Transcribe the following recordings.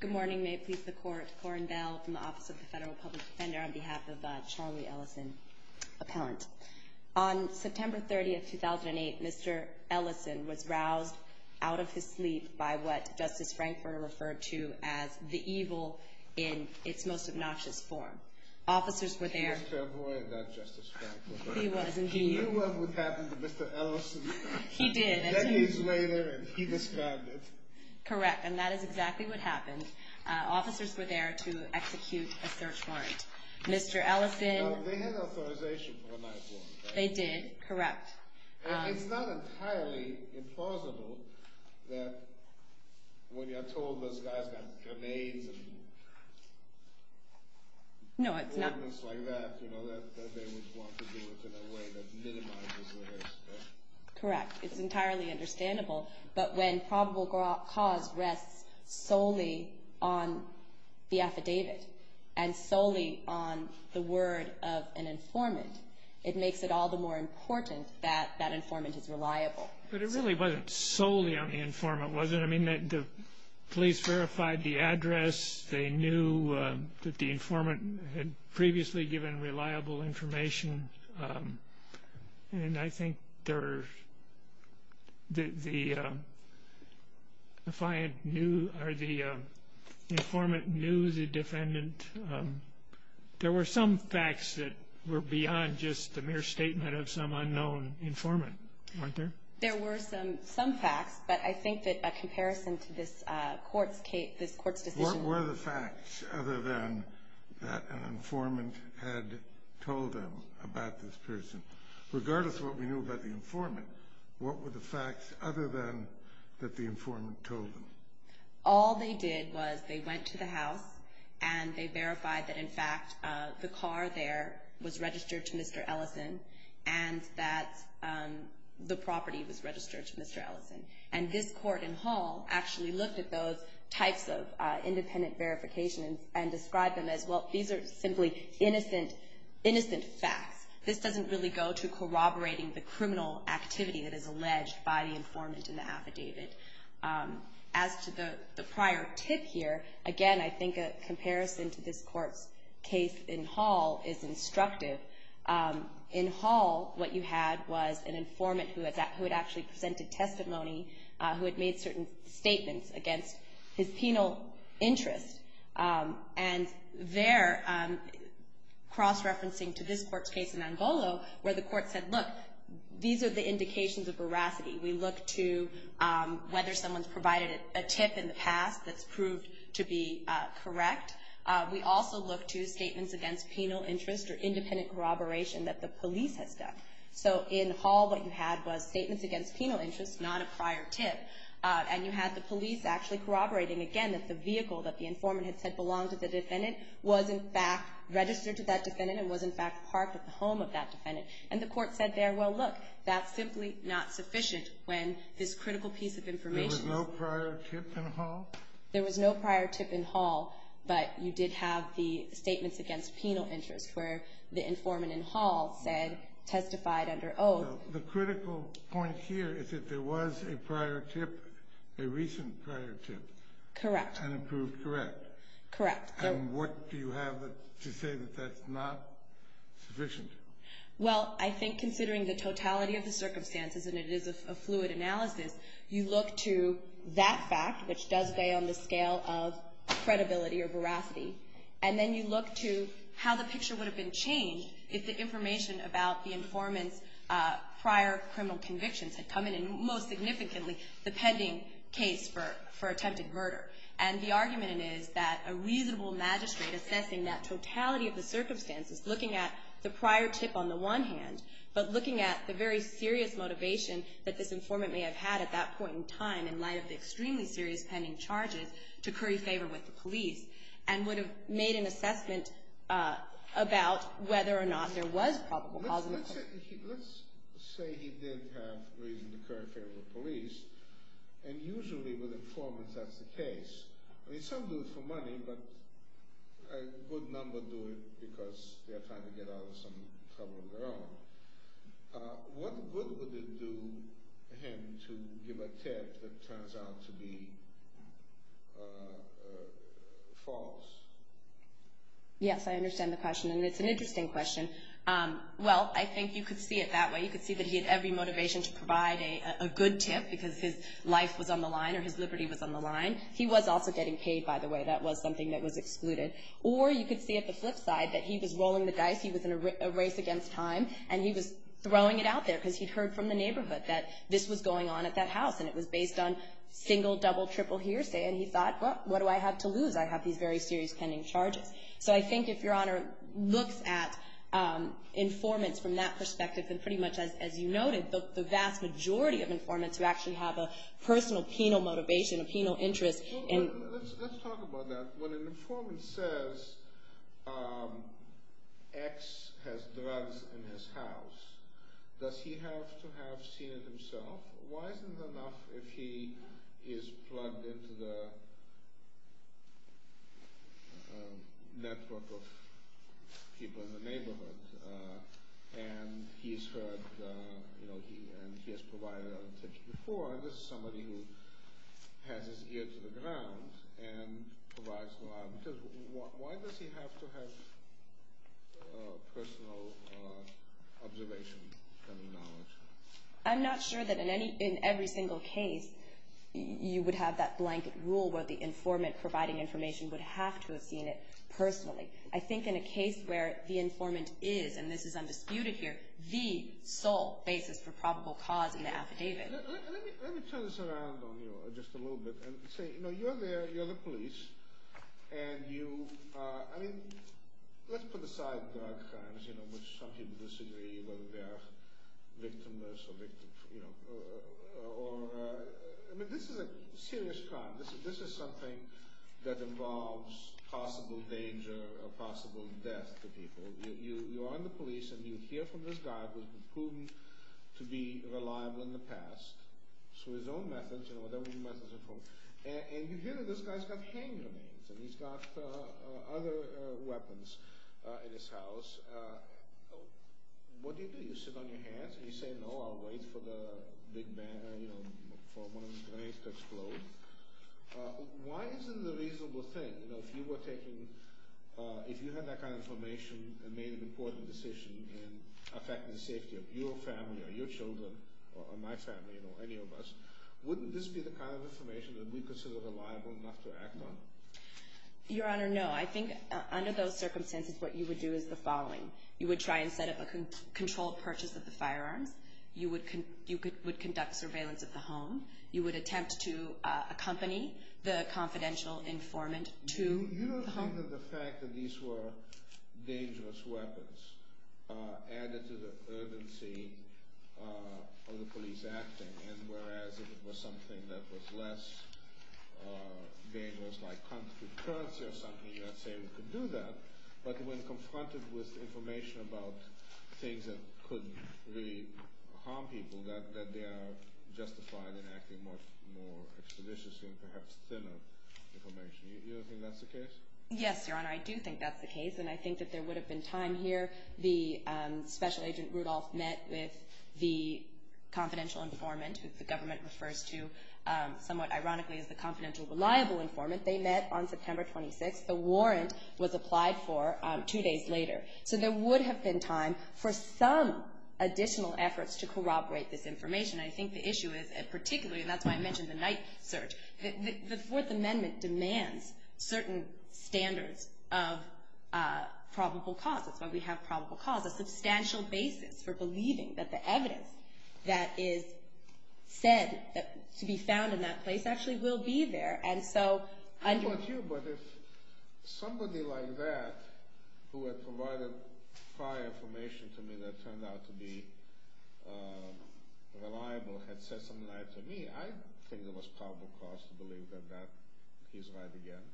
Good morning, may it please the court. Corinne Bell from the Office of the Federal Public Defender on behalf of the Charley Ellison appellant. On September 30, 2008, Mr. Ellison was roused out of his sleep by what Justice Frankfurter referred to as the evil in its most obnoxious form. Officers were there to execute a search warrant. Mr. Ellison, they did, correct. It's not entirely implausible that when you're told this guy's got grenades and things like that, you know, that they would want to do it in a way that minimizes the risk. Correct. It's entirely understandable. But when probable cause rests solely on the affidavit and solely on the word of an informant, it makes it all the more important that that informant is reliable. But it really wasn't solely on the informant, was it? I mean, the police verified the address. They knew that the informant had previously given reliable information. There were some facts that were beyond just the mere statement of some unknown informant, weren't there? There were some facts, but I think that a comparison to this court's decision... What were the facts other than that an informant had told them about this person? Regardless of what we knew about the informant, what were the facts other than that the informant told them? All they did was they went to the house and they verified that, in fact, the car there was registered to Mr. Ellison and that the property was registered to Mr. Ellison. And this court in Hall actually looked at those types of independent verifications and described them as, well, these are simply innocent facts. This doesn't really go to corroborating the criminal activity that is alleged by the informant in the affidavit. As to the prior tip here, again, I think a comparison to this court's case in Hall is instructive. In Hall, what you had was an informant who had actually presented testimony, who had made certain statements against his penal interest. And there, cross-referencing to this court's case in Angolo, where the court said, look, these are the indications of veracity. We look to whether someone's provided a tip in the past that's proved to be correct. We also look to statements against penal interest or independent corroboration that the police has done. So, in Hall, what you had was statements against penal interest, not a prior tip. And you had the police actually corroborating, again, that the vehicle that the informant had said belonged to the defendant was, in fact, registered to that defendant and was, in fact, parked at the home of that defendant. And the court said there, well, look, that's simply not sufficient when this critical piece of information is— There was no prior tip in Hall? There was no prior tip in Hall, but you did have the statements against penal interest, where the informant in Hall said, testified under oath. The critical point here is that there was a prior tip, a recent prior tip. Correct. And it proved correct. Correct. And what do you have to say that that's not sufficient? Well, I think considering the totality of the circumstances, and it is a fluid analysis, you look to that fact, which does weigh on the scale of credibility or veracity, and then you look to how the picture would have been changed if the information about the informant's prior criminal convictions had come in, and most significantly, the pending case for attempted murder. And the argument is that a reasonable magistrate assessing that totality of the circumstances, looking at the prior tip on the one hand, but looking at the very serious motivation that this informant may have had at that point in time, in light of the extremely serious pending charges, to curry favor with the police, and would have made an assessment about whether or not there was probable cause of murder. Let's say he did have reason to curry favor with police, and usually with informants that's the case. I mean, some do it for money, but a good number do it because they're trying to get out of some trouble of their own. What good would it do him to give a tip that turns out to be false? Yes, I understand the question, and it's an interesting question. Well, I think you could see it that way. You could see that he had every motivation to provide a good tip because his life was on the line or his liberty was on the line. He was also getting paid, by the way. That was something that was excluded. Or you could see at the flip side that he was rolling the dice. He was in a race against time, and he was throwing it out there because he'd heard from the neighborhood that this was going on at that house, and it was based on single, double, triple hearsay, and he thought, well, what do I have to lose? I have these very serious pending charges. So I think if Your Honor looks at informants from that perspective, then pretty much as you noted, the vast majority of informants who actually have a personal penal motivation, a penal interest. Let's talk about that. When an informant says X has drugs in his house, does he have to have seen it himself? Why isn't it enough if he is plugged into the network of people in the neighborhood, and he's heard, you know, and he has provided a tip before, and this is somebody who has his ear to the ground and provides a lot, because why does he have to have personal observation and knowledge? I'm not sure that in every single case you would have that blanket rule where the informant providing information would have to have seen it personally. I think in a case where the informant is, and this is undisputed here, the sole basis for probable cause in the affidavit. Let me turn this around on you just a little bit and say, you know, you're there, you're the police, and you, I mean, let's put aside drug crimes, you know, which some people disagree whether they are victimless or victim, you know, or, I mean, this is a serious crime. This is something that involves possible danger or possible death to people. You are in the police and you hear from this guy who has proven to be reliable in the past, through his own methods, you know, and you hear that this guy's got hand grenades and he's got other weapons in his house. What do you do? You sit on your hands and you say, no, I'll wait for the big bang, you know, for one of the grenades to explode. Why is it a reasonable thing? You know, if you were taking, if you had that kind of information and made an important decision in affecting the safety of your family or your children or my family or any of us, wouldn't this be the kind of information that we consider reliable enough to act on? Your Honor, no. I think under those circumstances what you would do is the following. You would try and set up a controlled purchase of the firearms. You would conduct surveillance of the home. You would attempt to accompany the confidential informant to the home. You don't come to the fact that these were dangerous weapons added to the urgency of the police acting, and whereas if it was something that was less dangerous like counterfeit currency or something, you might say we could do that. But when confronted with information about things that could really harm people, that they are justified in acting more expeditiously and perhaps thinner information. You don't think that's the case? Yes, Your Honor, I do think that's the case, and I think that there would have been time here. The Special Agent Rudolph met with the confidential informant, who the government refers to somewhat ironically as the confidential reliable informant. They met on September 26th. The warrant was applied for two days later. So there would have been time for some additional efforts to corroborate this information. I think the issue is particularly, and that's why I mentioned the night search, the Fourth Amendment demands certain standards of probable cause. That's why we have probable cause, a substantial basis for believing that the evidence that is said to be found in that place actually will be there. How about you? But if somebody like that who had provided prior information to me that turned out to be reliable had said something like that to me, I think there was probable cause to believe that he's right again.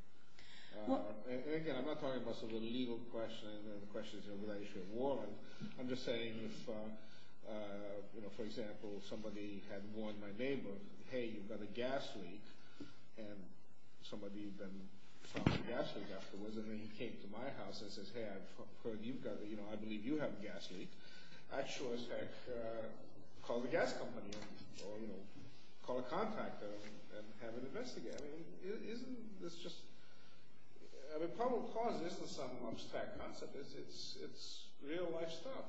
And again, I'm not talking about some illegal question. The question is here with that issue of warrant. I'm just saying if, for example, somebody had warned my neighbor, hey, you've got a gas leak, and somebody then found the gas leak afterwards, and then he came to my house and says, hey, I believe you have a gas leak. I'd sure as heck call the gas company or call a contractor and have it investigated. I mean, isn't this just, I mean, probable cause isn't some abstract concept. It's real-life stuff.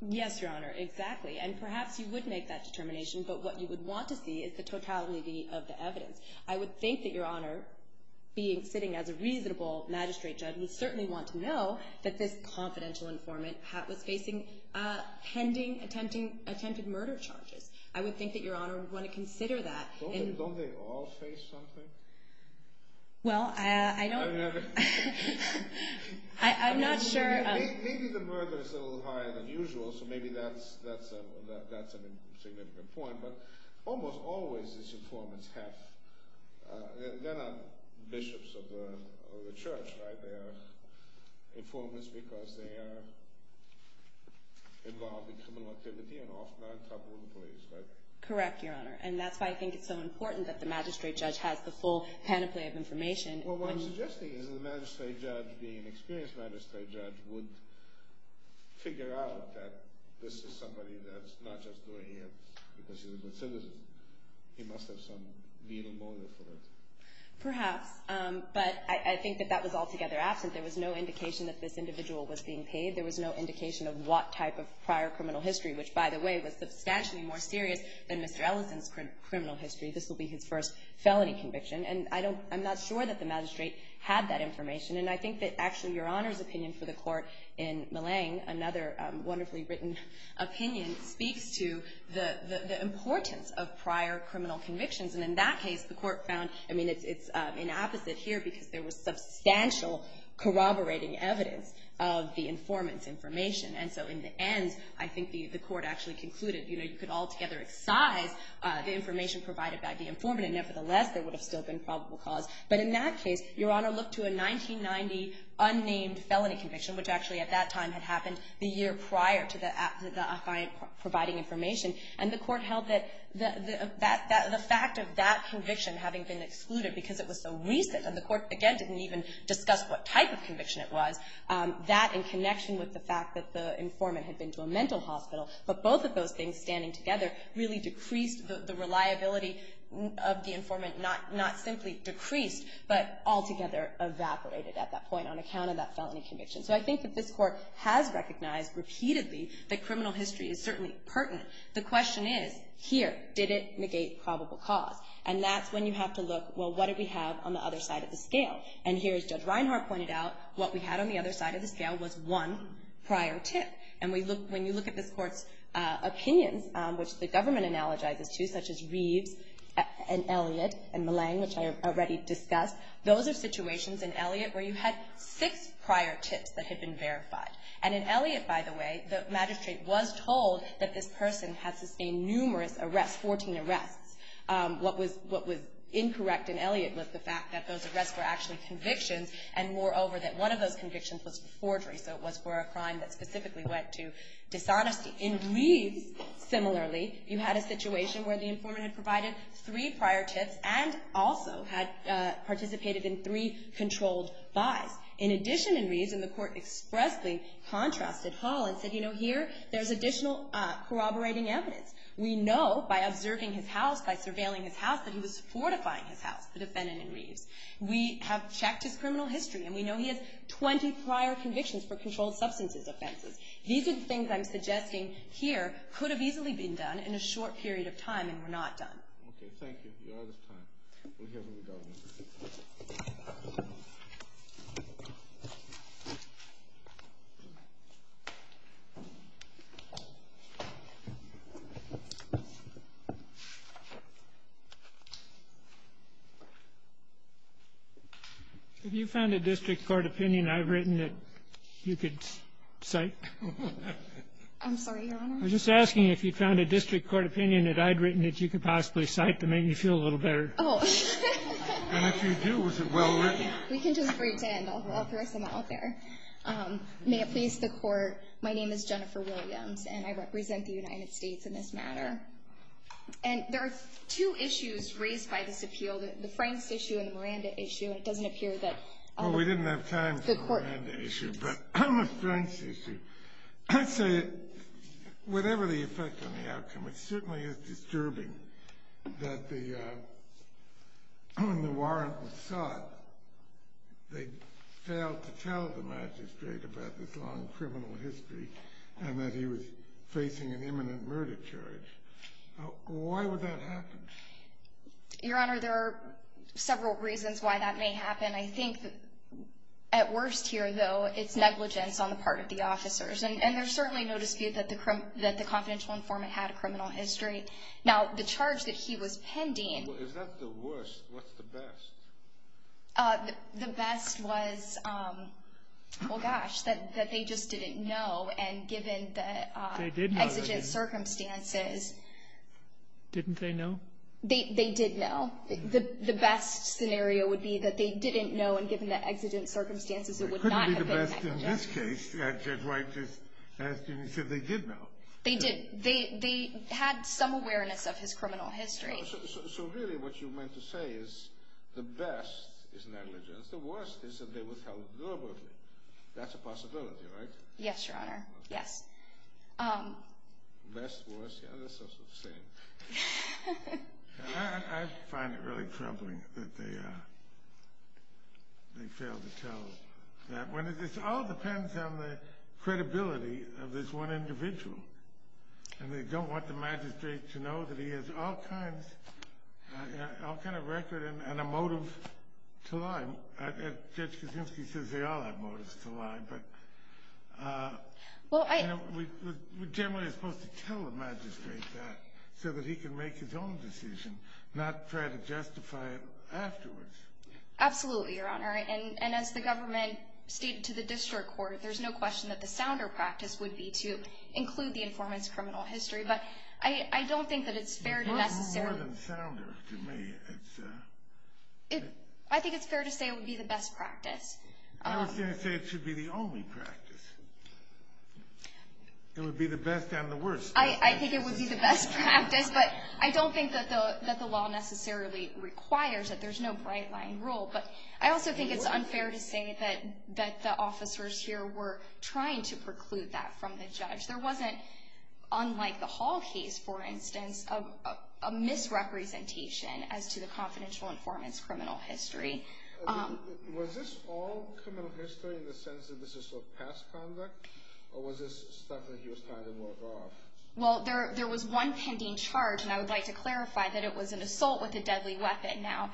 Yes, Your Honor, exactly. And perhaps you would make that determination, but what you would want to see is the totality of the evidence. I would think that Your Honor, sitting as a reasonable magistrate judge, you would certainly want to know that this confidential informant was facing pending attempted murder charges. I would think that Your Honor would want to consider that. Don't they all face something? Well, I don't. I'm not sure. Maybe the murder is a little higher than usual, so maybe that's a significant point. But almost always these informants have, they're not bishops of the church, right? They are informants because they are involved in criminal activity and often are in trouble with the police, right? Correct, Your Honor. And that's why I think it's so important that the magistrate judge has the full panoply of information. Well, what I'm suggesting is that the magistrate judge, the experienced magistrate judge, would figure out that this is somebody that's not just doing it because he was a citizen. He must have some legal motive for it. Perhaps. But I think that that was altogether absent. There was no indication that this individual was being paid. There was no indication of what type of prior criminal history, which, by the way, was substantially more serious than Mr. Ellison's criminal history. This will be his first felony conviction. And I'm not sure that the magistrate had that information. And I think that actually Your Honor's opinion for the court in Millang, another wonderfully written opinion, speaks to the importance of prior criminal convictions. And in that case, the court found, I mean, it's inapposite here because there was substantial corroborating evidence of the informant's information. And so in the end, I think the court actually concluded, you know, you could altogether excise the information provided by the informant. Nevertheless, there would have still been probable cause. But in that case, Your Honor looked to a 1990 unnamed felony conviction, which actually at that time had happened the year prior to the client providing information. And the court held that the fact of that conviction having been excluded because it was so recent and the court, again, didn't even discuss what type of conviction it was, that in connection with the fact that the informant had been to a mental hospital, but both of those things standing together really decreased the reliability of the informant, not simply decreased, but altogether evaporated at that point on account of that felony conviction. So I think that this court has recognized repeatedly that criminal history is certainly pertinent. The question is, here, did it negate probable cause? And that's when you have to look, well, what did we have on the other side of the scale? And here, as Judge Reinhart pointed out, what we had on the other side of the scale was one prior tip. And when you look at this court's opinions, which the government analogizes to, such as Reeves and Elliott and Millang, which I already discussed, those are situations in Elliott where you had six prior tips that had been verified. And in Elliott, by the way, the magistrate was told that this person had sustained numerous arrests, 14 arrests. What was incorrect in Elliott was the fact that those arrests were actually convictions and moreover that one of those convictions was for forgery, so it was for a crime that specifically went to dishonesty. In Reeves, similarly, you had a situation where the informant had provided three prior tips and also had participated in three controlled buys. In addition in Reeves, and the court expressly contrasted Hall and said, you know, here, there's additional corroborating evidence. We know by observing his house, by surveilling his house, that he was fortifying his house, the defendant in Reeves. We have checked his criminal history, and we know he has 20 prior convictions for controlled substances offenses. These are the things I'm suggesting here could have easily been done in a short period of time and were not done. Okay, thank you. You're out of time. We'll hear from the government. Have you found a district court opinion I've written that you could cite? I'm sorry, Your Honor? I'm just asking if you found a district court opinion that I'd written that you could possibly cite to make me feel a little better. Oh. And if you do, is it well written? We can just pretend. I'll throw some out there. May it please the court, my name is Jennifer Williams, and I represent the United States in this matter. And there are two issues raised by this appeal, the Franks issue and the Miranda issue, and it doesn't appear that the court. Well, we didn't have time for the Miranda issue, but the Franks issue. I'd say whatever the effect on the outcome, it certainly is disturbing that when the warrant was sought, they failed to tell the magistrate about this long criminal history and that he was facing an imminent murder charge. Why would that happen? Your Honor, there are several reasons why that may happen. I think at worst here, though, it's negligence on the part of the officers. And there's certainly no dispute that the confidential informant had a criminal history. Now, the charge that he was pending. If that's the worst, what's the best? The best was, well, gosh, that they just didn't know, and given the exigent circumstances. Didn't they know? They did know. The best scenario would be that they didn't know, and given the exigent circumstances, it would not have been negligence. It couldn't be the best in this case. Judge White just asked, and he said they did know. They did. They had some awareness of his criminal history. So really what you meant to say is the best is negligence. The worst is that they were held deliberately. That's a possibility, right? Yes, Your Honor. Yes. Best, worst, yeah, that's sort of the same. I find it really troubling that they fail to tell that. It all depends on the credibility of this one individual. And they don't want the magistrate to know that he has all kinds of record and a motive to lie. Judge Kaczynski says they all have motives to lie. We generally are supposed to tell the magistrate that so that he can make his own decision, not try to justify it afterwards. Absolutely, Your Honor. And as the government stated to the district court, there's no question that the sounder practice would be to include the informant's criminal history. But I don't think that it's fair to necessarily – It's more than sounder to me. I think it's fair to say it would be the best practice. I was going to say it should be the only practice. It would be the best and the worst. I think it would be the best practice, but I don't think that the law necessarily requires it. There's no bright-line rule. But I also think it's unfair to say that the officers here were trying to preclude that from the judge. There wasn't, unlike the Hall case, for instance, a misrepresentation as to the confidential informant's criminal history. Was this all criminal history in the sense that this is sort of past conduct, or was this stuff that he was trying to work off? Well, there was one pending charge, and I would like to clarify that it was an assault with a deadly weapon. Now,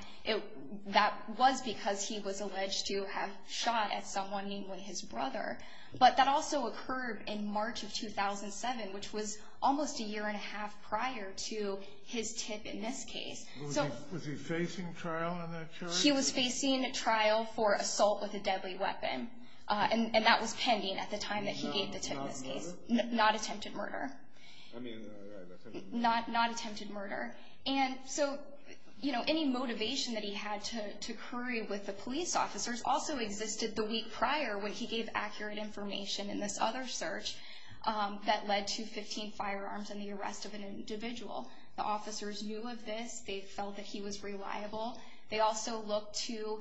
that was because he was alleged to have shot at someone, namely his brother. But that also occurred in March of 2007, which was almost a year and a half prior to his tip in this case. Was he facing trial in that charge? He was facing trial for assault with a deadly weapon, and that was pending at the time that he gave the tip in this case. Not attempted murder? Not attempted murder. I mean, right, attempted murder. Not attempted murder. And so, you know, any motivation that he had to hurry with the police officers also existed the week prior when he gave accurate information in this other search that led to 15 firearms and the arrest of an individual. The officers knew of this. They felt that he was reliable. They also looked to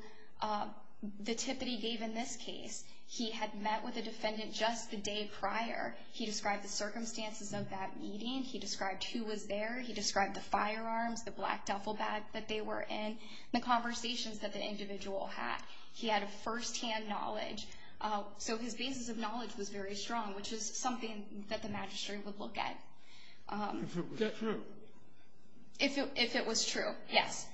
the tip that he gave in this case. He had met with a defendant just the day prior. He described the circumstances of that meeting. He described who was there. He described the firearms, the black duffel bag that they were in, the conversations that the individual had. He had a firsthand knowledge. So his basis of knowledge was very strong, which is something that the magistrate would look at. If it was true? If it was true, yes.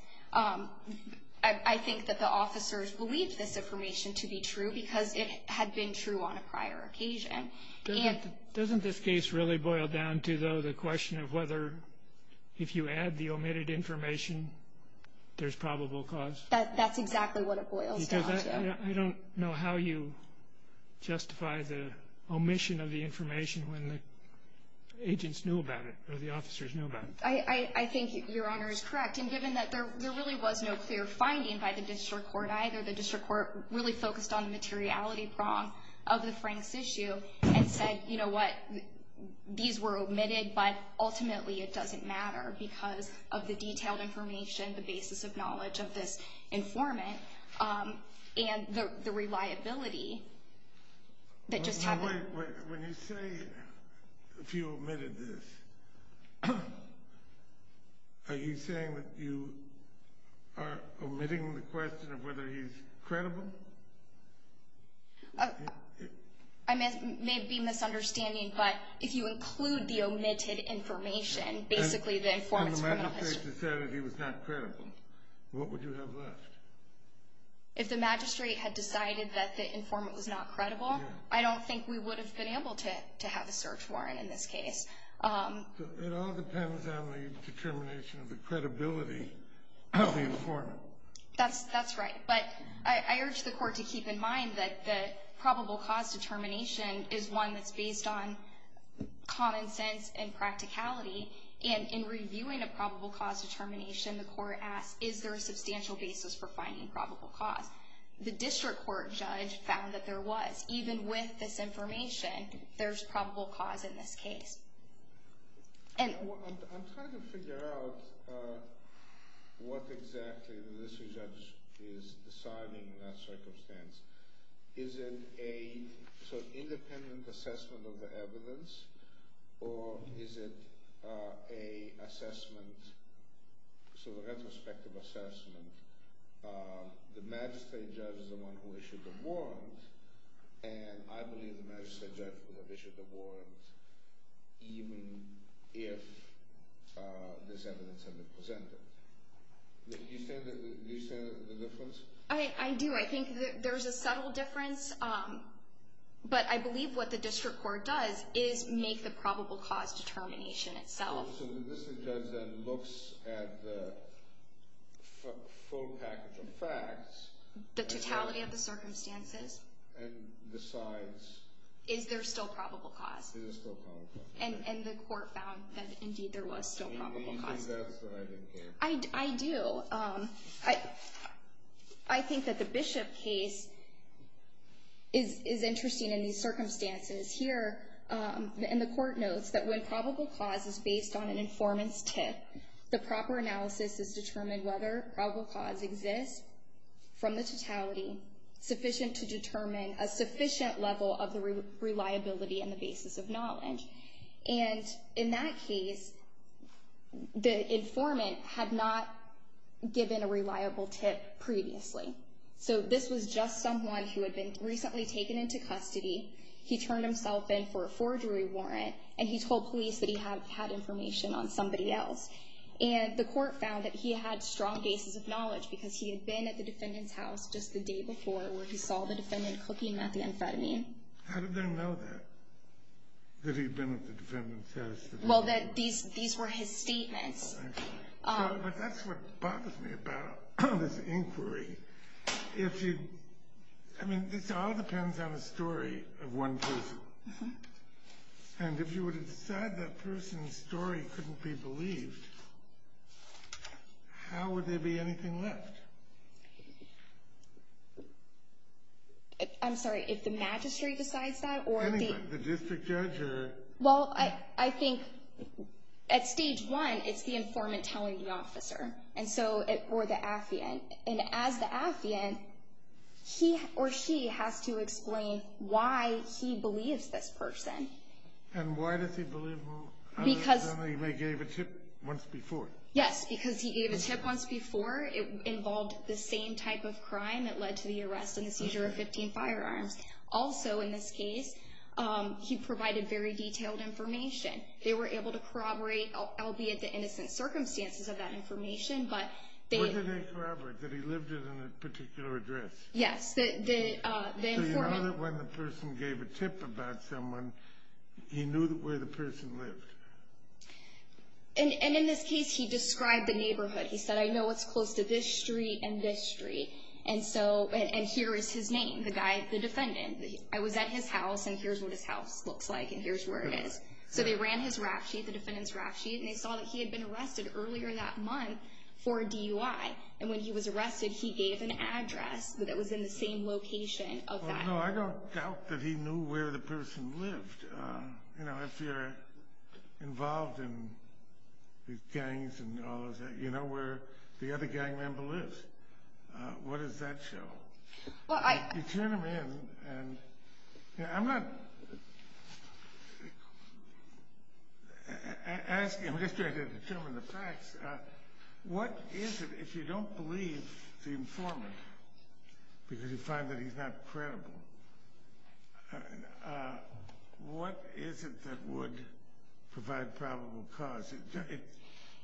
I think that the officers believed this information to be true because it had been true on a prior occasion. Doesn't this case really boil down to, though, the question of whether if you add the omitted information, there's probable cause? That's exactly what it boils down to. I don't know how you justify the omission of the information when the agents knew about it or the officers knew about it. I think Your Honor is correct. And given that there really was no clear finding by the district court either, the district court really focused on the materiality prong of the Franks issue and said, you know what, these were omitted, but ultimately it doesn't matter because of the detailed information, the basis of knowledge of this informant, and the reliability that just happened. When you say if you omitted this, are you saying that you are omitting the question of whether he's credible? It may be a misunderstanding, but if you include the omitted information, basically the informant's criminal history. If the magistrate had said that he was not credible, what would you have left? If the magistrate had decided that the informant was not credible, I don't think we would have been able to have a search warrant in this case. It all depends on the determination of the credibility of the informant. That's right. But I urge the court to keep in mind that the probable cause determination is one that's based on common sense and practicality, and in reviewing a probable cause determination, the court asks is there a substantial basis for finding probable cause. The district court judge found that there was. Even with this information, there's probable cause in this case. I'm trying to figure out what exactly the district judge is deciding in that circumstance. Is it an independent assessment of the evidence, or is it a retrospective assessment? The magistrate judge is the one who issued the warrant, and I believe the magistrate judge would have issued the warrant even if this evidence had been presented. Do you see the difference? I do. I think there's a subtle difference, but I believe what the district court does is make the probable cause determination itself. So the district judge then looks at the full package of facts. The totality of the circumstances. And decides. Is there still probable cause? There is still probable cause. And the court found that, indeed, there was still probable cause. Do you think that's what I think, Anne? I do. I think that the Bishop case is interesting in these circumstances. Here, and the court notes that when probable cause is based on an informant's tip, the proper analysis is determined whether probable cause exists from the totality sufficient to determine a sufficient level of the reliability and the basis of knowledge. And in that case, the informant had not given a reliable tip previously. So this was just someone who had been recently taken into custody. He turned himself in for a forgery warrant. And he told police that he had information on somebody else. And the court found that he had strong bases of knowledge because he had been at the defendant's house just the day before where he saw the defendant cooking methamphetamine. How did they know that? That he'd been at the defendant's house? Well, these were his statements. But that's what bothers me about this inquiry. I mean, this all depends on a story of one person. And if you were to decide that person's story couldn't be believed, how would there be anything left? I'm sorry. If the magistrate decides that or the district judge? Well, I think at stage one, it's the informant telling the officer or the affiant. And as the affiant, he or she has to explain why he believes this person. And why does he believe him other than that he gave a tip once before? Yes, because he gave a tip once before. It involved the same type of crime that led to the arrest and the seizure of 15 firearms. Also, in this case, he provided very detailed information. They were able to corroborate, albeit the innocent circumstances of that information, but they Did they corroborate that he lived in a particular address? Yes, the informant So you know that when the person gave a tip about someone, he knew where the person lived? And in this case, he described the neighborhood. He said, I know it's close to this street and this street. And here is his name, the defendant. I was at his house, and here's what his house looks like, and here's where it is. So they ran his rap sheet, the defendant's rap sheet, and they saw that he had been arrested earlier that month for DUI. And when he was arrested, he gave an address that was in the same location of that. Well, no, I don't doubt that he knew where the person lived. You know, if you're involved in these gangs and all of that, you know where the other gang member lives. What does that show? You turn him in, and I'm not asking, I'm just trying to determine the facts. What is it, if you don't believe the informant, because you find that he's not credible, what is it that would provide probable cause?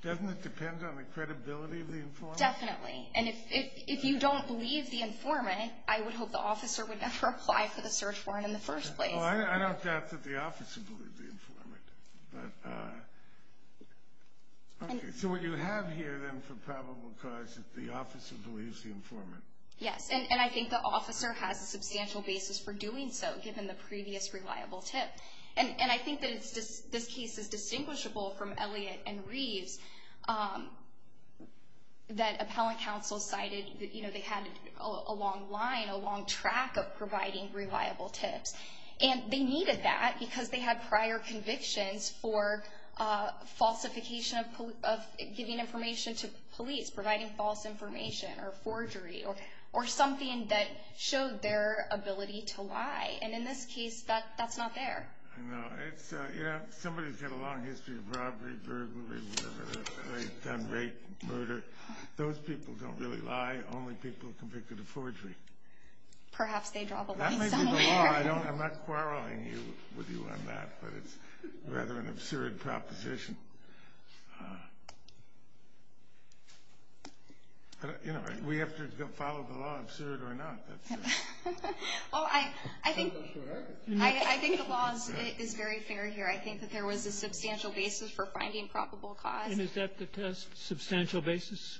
Doesn't it depend on the credibility of the informant? Definitely. And if you don't believe the informant, I would hope the officer would never apply for the search warrant in the first place. Well, I don't doubt that the officer believed the informant. But, okay, so what you have here then for probable cause is the officer believes the informant. Yes, and I think the officer has a substantial basis for doing so, given the previous reliable tip. And I think that this case is distinguishable from Elliott and Reeves, that appellate counsel cited that, you know, they had a long line, a long track of providing reliable tips. And they needed that because they had prior convictions for falsification of giving information to police, providing false information or forgery or something that showed their ability to lie. And in this case, that's not there. I know. You know, somebody's got a long history of robbery, burglary, whatever. They've done rape, murder. Those people don't really lie. Only people convicted of forgery. Perhaps they draw the line somewhere. I'm not quarreling with you on that, but it's rather an absurd proposition. You know, we have to follow the law, absurd or not. Well, I think the law is very fair here. I think that there was a substantial basis for finding probable cause. And is that the test? Substantial basis?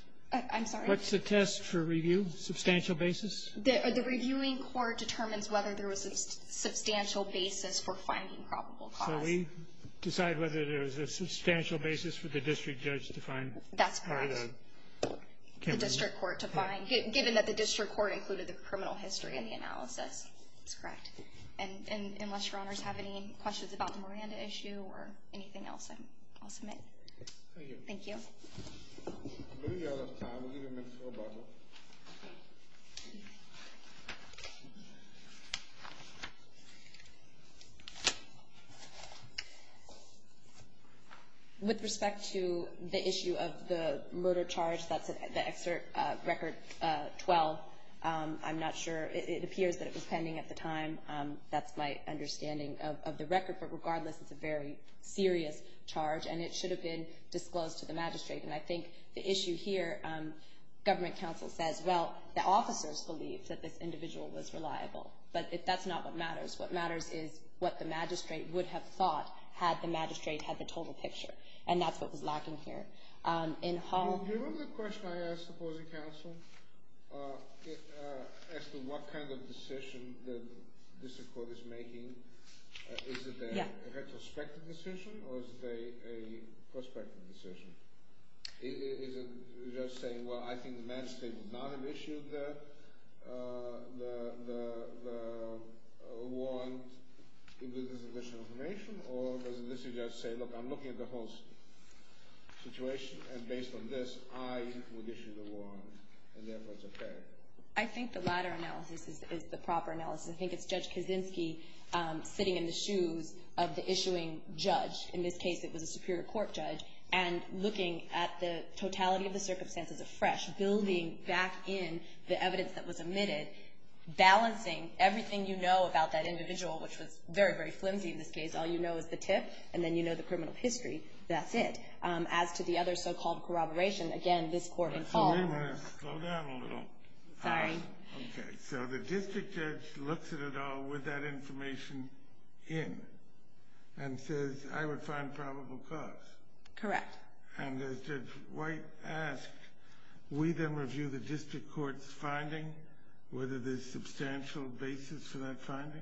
I'm sorry? What's the test for review? Substantial basis? The reviewing court determines whether there was a substantial basis for finding probable cause. So we decide whether there was a substantial basis for the district judge to find? That's correct. The district court to find, given that the district court included the criminal history in the analysis. That's correct. And unless your honors have any questions about the Miranda issue or anything else, I'll submit. Thank you. Any other comments? With respect to the issue of the murder charge, the excerpt record 12, I'm not sure. It appears that it was pending at the time. That's my understanding of the record. But regardless, it's a very serious charge. And it should have been disclosed to the magistrate. And I think the issue here, government counsel says, well, the officers believe that this individual was reliable. But that's not what matters. What matters is what the magistrate would have thought had the magistrate had the total picture. And that's what was lacking here. Do you remember the question I asked the opposing counsel as to what kind of decision the district court is making? Is it a retrospective decision or is it a prospective decision? Is it just saying, well, I think the magistrate would not have issued the warrant, or does it just say, look, I'm looking at the whole situation, and based on this, I would issue the warrant, and therefore it's okay? I think the latter analysis is the proper analysis. I think it's Judge Kaczynski sitting in the shoes of the issuing judge. In this case, it was a superior court judge. And looking at the totality of the circumstances afresh, building back in the evidence that was omitted, balancing everything you know about that individual, which was very, very flimsy in this case. All you know is the tip, and then you know the criminal history. That's it. As to the other so-called corroboration, again, this court involved. Wait a minute. Slow down a little. Sorry. Okay. So the district judge looks at it all with that information in and says, I would find probable cause. Correct. And as Judge White asked, we then review the district court's finding, whether there's substantial basis for that finding?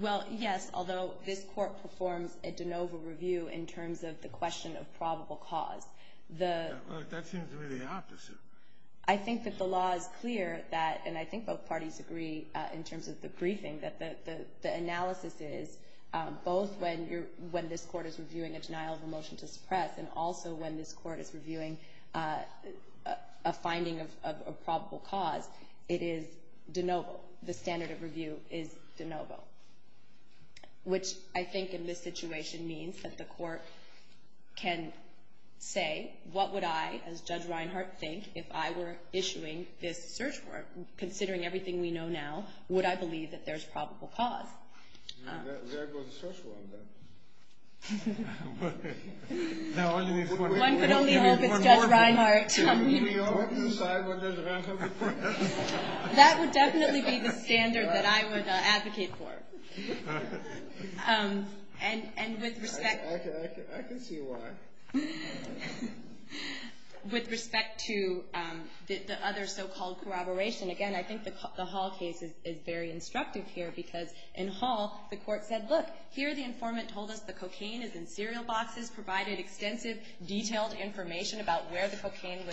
Well, yes, although this court performs a de novo review in terms of the question of probable cause. That seems really opposite. I think that the law is clear that, and I think both parties agree in terms of the briefing, that the analysis is both when this court is reviewing a denial of a motion to suppress and also when this court is reviewing a finding of probable cause, it is de novo. The standard of review is de novo, which I think in this situation means that the court can say, what would I, as Judge Reinhart, think if I were issuing this search warrant? Considering everything we know now, would I believe that there's probable cause? There goes the search warrant. One could only hope it's Judge Reinhart. That would definitely be the standard that I would advocate for. And with respect to the other so-called corroboration, again, I think the Hall case is very instructive here because in Hall, the court said, look, here the informant told us the cocaine is in cereal boxes, provided extensive detailed information about where the cocaine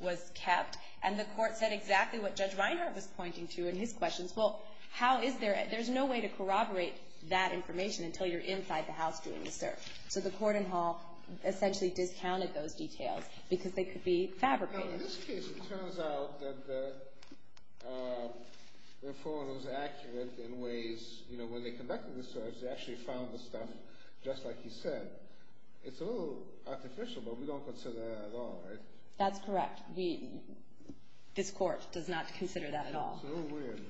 was kept, and the court said exactly what Judge Reinhart was pointing to in his questions. Well, how is there, there's no way to corroborate that information until you're inside the house doing the search. So the court in Hall essentially discounted those details because they could be fabricated. In this case, it turns out that the informant was accurate in ways. When they conducted the search, they actually found the stuff just like he said. It's a little artificial, but we don't consider that at all, right? That's correct. This court does not consider that at all. So weird.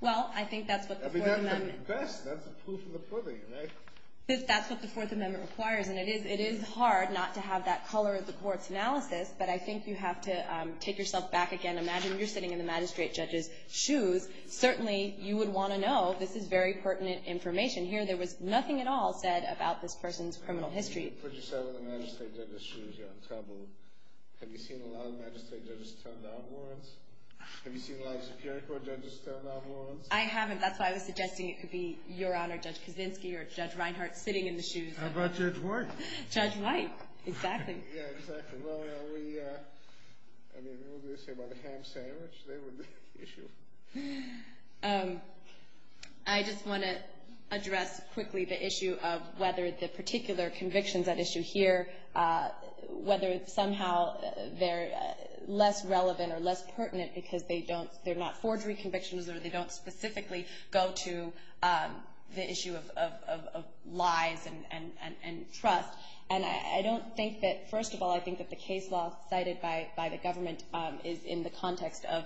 Well, I think that's what the Fourth Amendment. I mean, that's the best. That's the proof of the pudding, right? That's what the Fourth Amendment requires, and it is hard not to have that color of the court's analysis, but I think you have to take yourself back again. Imagine you're sitting in the magistrate judge's shoes. Certainly, you would want to know this is very pertinent information. Here, there was nothing at all said about this person's criminal history. If you put yourself in the magistrate judge's shoes, you're in trouble. Have you seen a lot of magistrate judges turn down warrants? Have you seen a lot of Superior Court judges turn down warrants? I haven't. That's why I was suggesting it could be Your Honor Judge Kaczynski or Judge Reinhart sitting in the shoes. How about Judge White? Judge White. Exactly. Yeah, exactly. I mean, what do they say about the ham sandwich? They were the issue. I just want to address quickly the issue of whether the particular convictions at issue here, whether somehow they're less relevant or less pertinent because they're not forgery convictions or they don't specifically go to the issue of lies and trust. And I don't think that, first of all, I think that the case law cited by the government is in the context of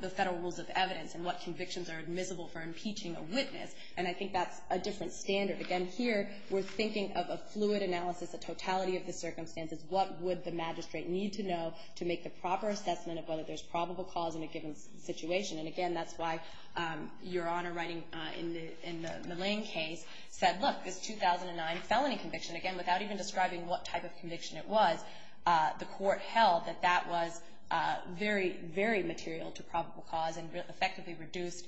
the federal rules of evidence and what convictions are admissible for impeaching a witness. And I think that's a different standard. Again, here, we're thinking of a fluid analysis, a totality of the circumstances. What would the magistrate need to know to make the proper assessment of whether there's probable cause in a given situation? And, again, that's why Your Honor writing in the Lane case said, look, this 2009 felony conviction, again, without even describing what type of conviction it was, the court held that that was very, very material to probable cause and effectively reduced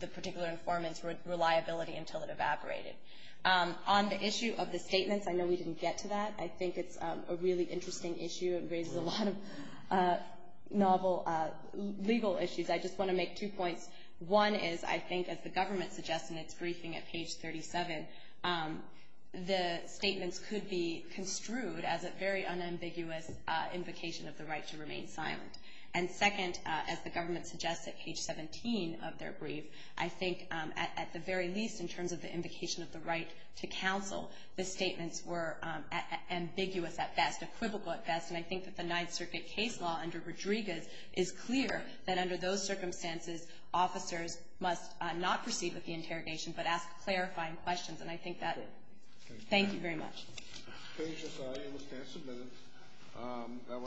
the particular informant's reliability until it evaporated. On the issue of the statements, I know we didn't get to that. I think it's a really interesting issue. It raises a lot of novel legal issues. I just want to make two points. One is, I think, as the government suggests in its briefing at page 37, the statements could be construed as a very unambiguous invocation of the right to remain silent. And, second, as the government suggests at page 17 of their brief, I think at the very least in terms of the invocation of the right to counsel, the statements were ambiguous at best, equivocal at best. And I think that the Ninth Circuit case law under Rodriguez is clear that under those circumstances, officers must not proceed with the interrogation, but ask clarifying questions. And I think that is it. Thank you very much. Thank you, Your Honor.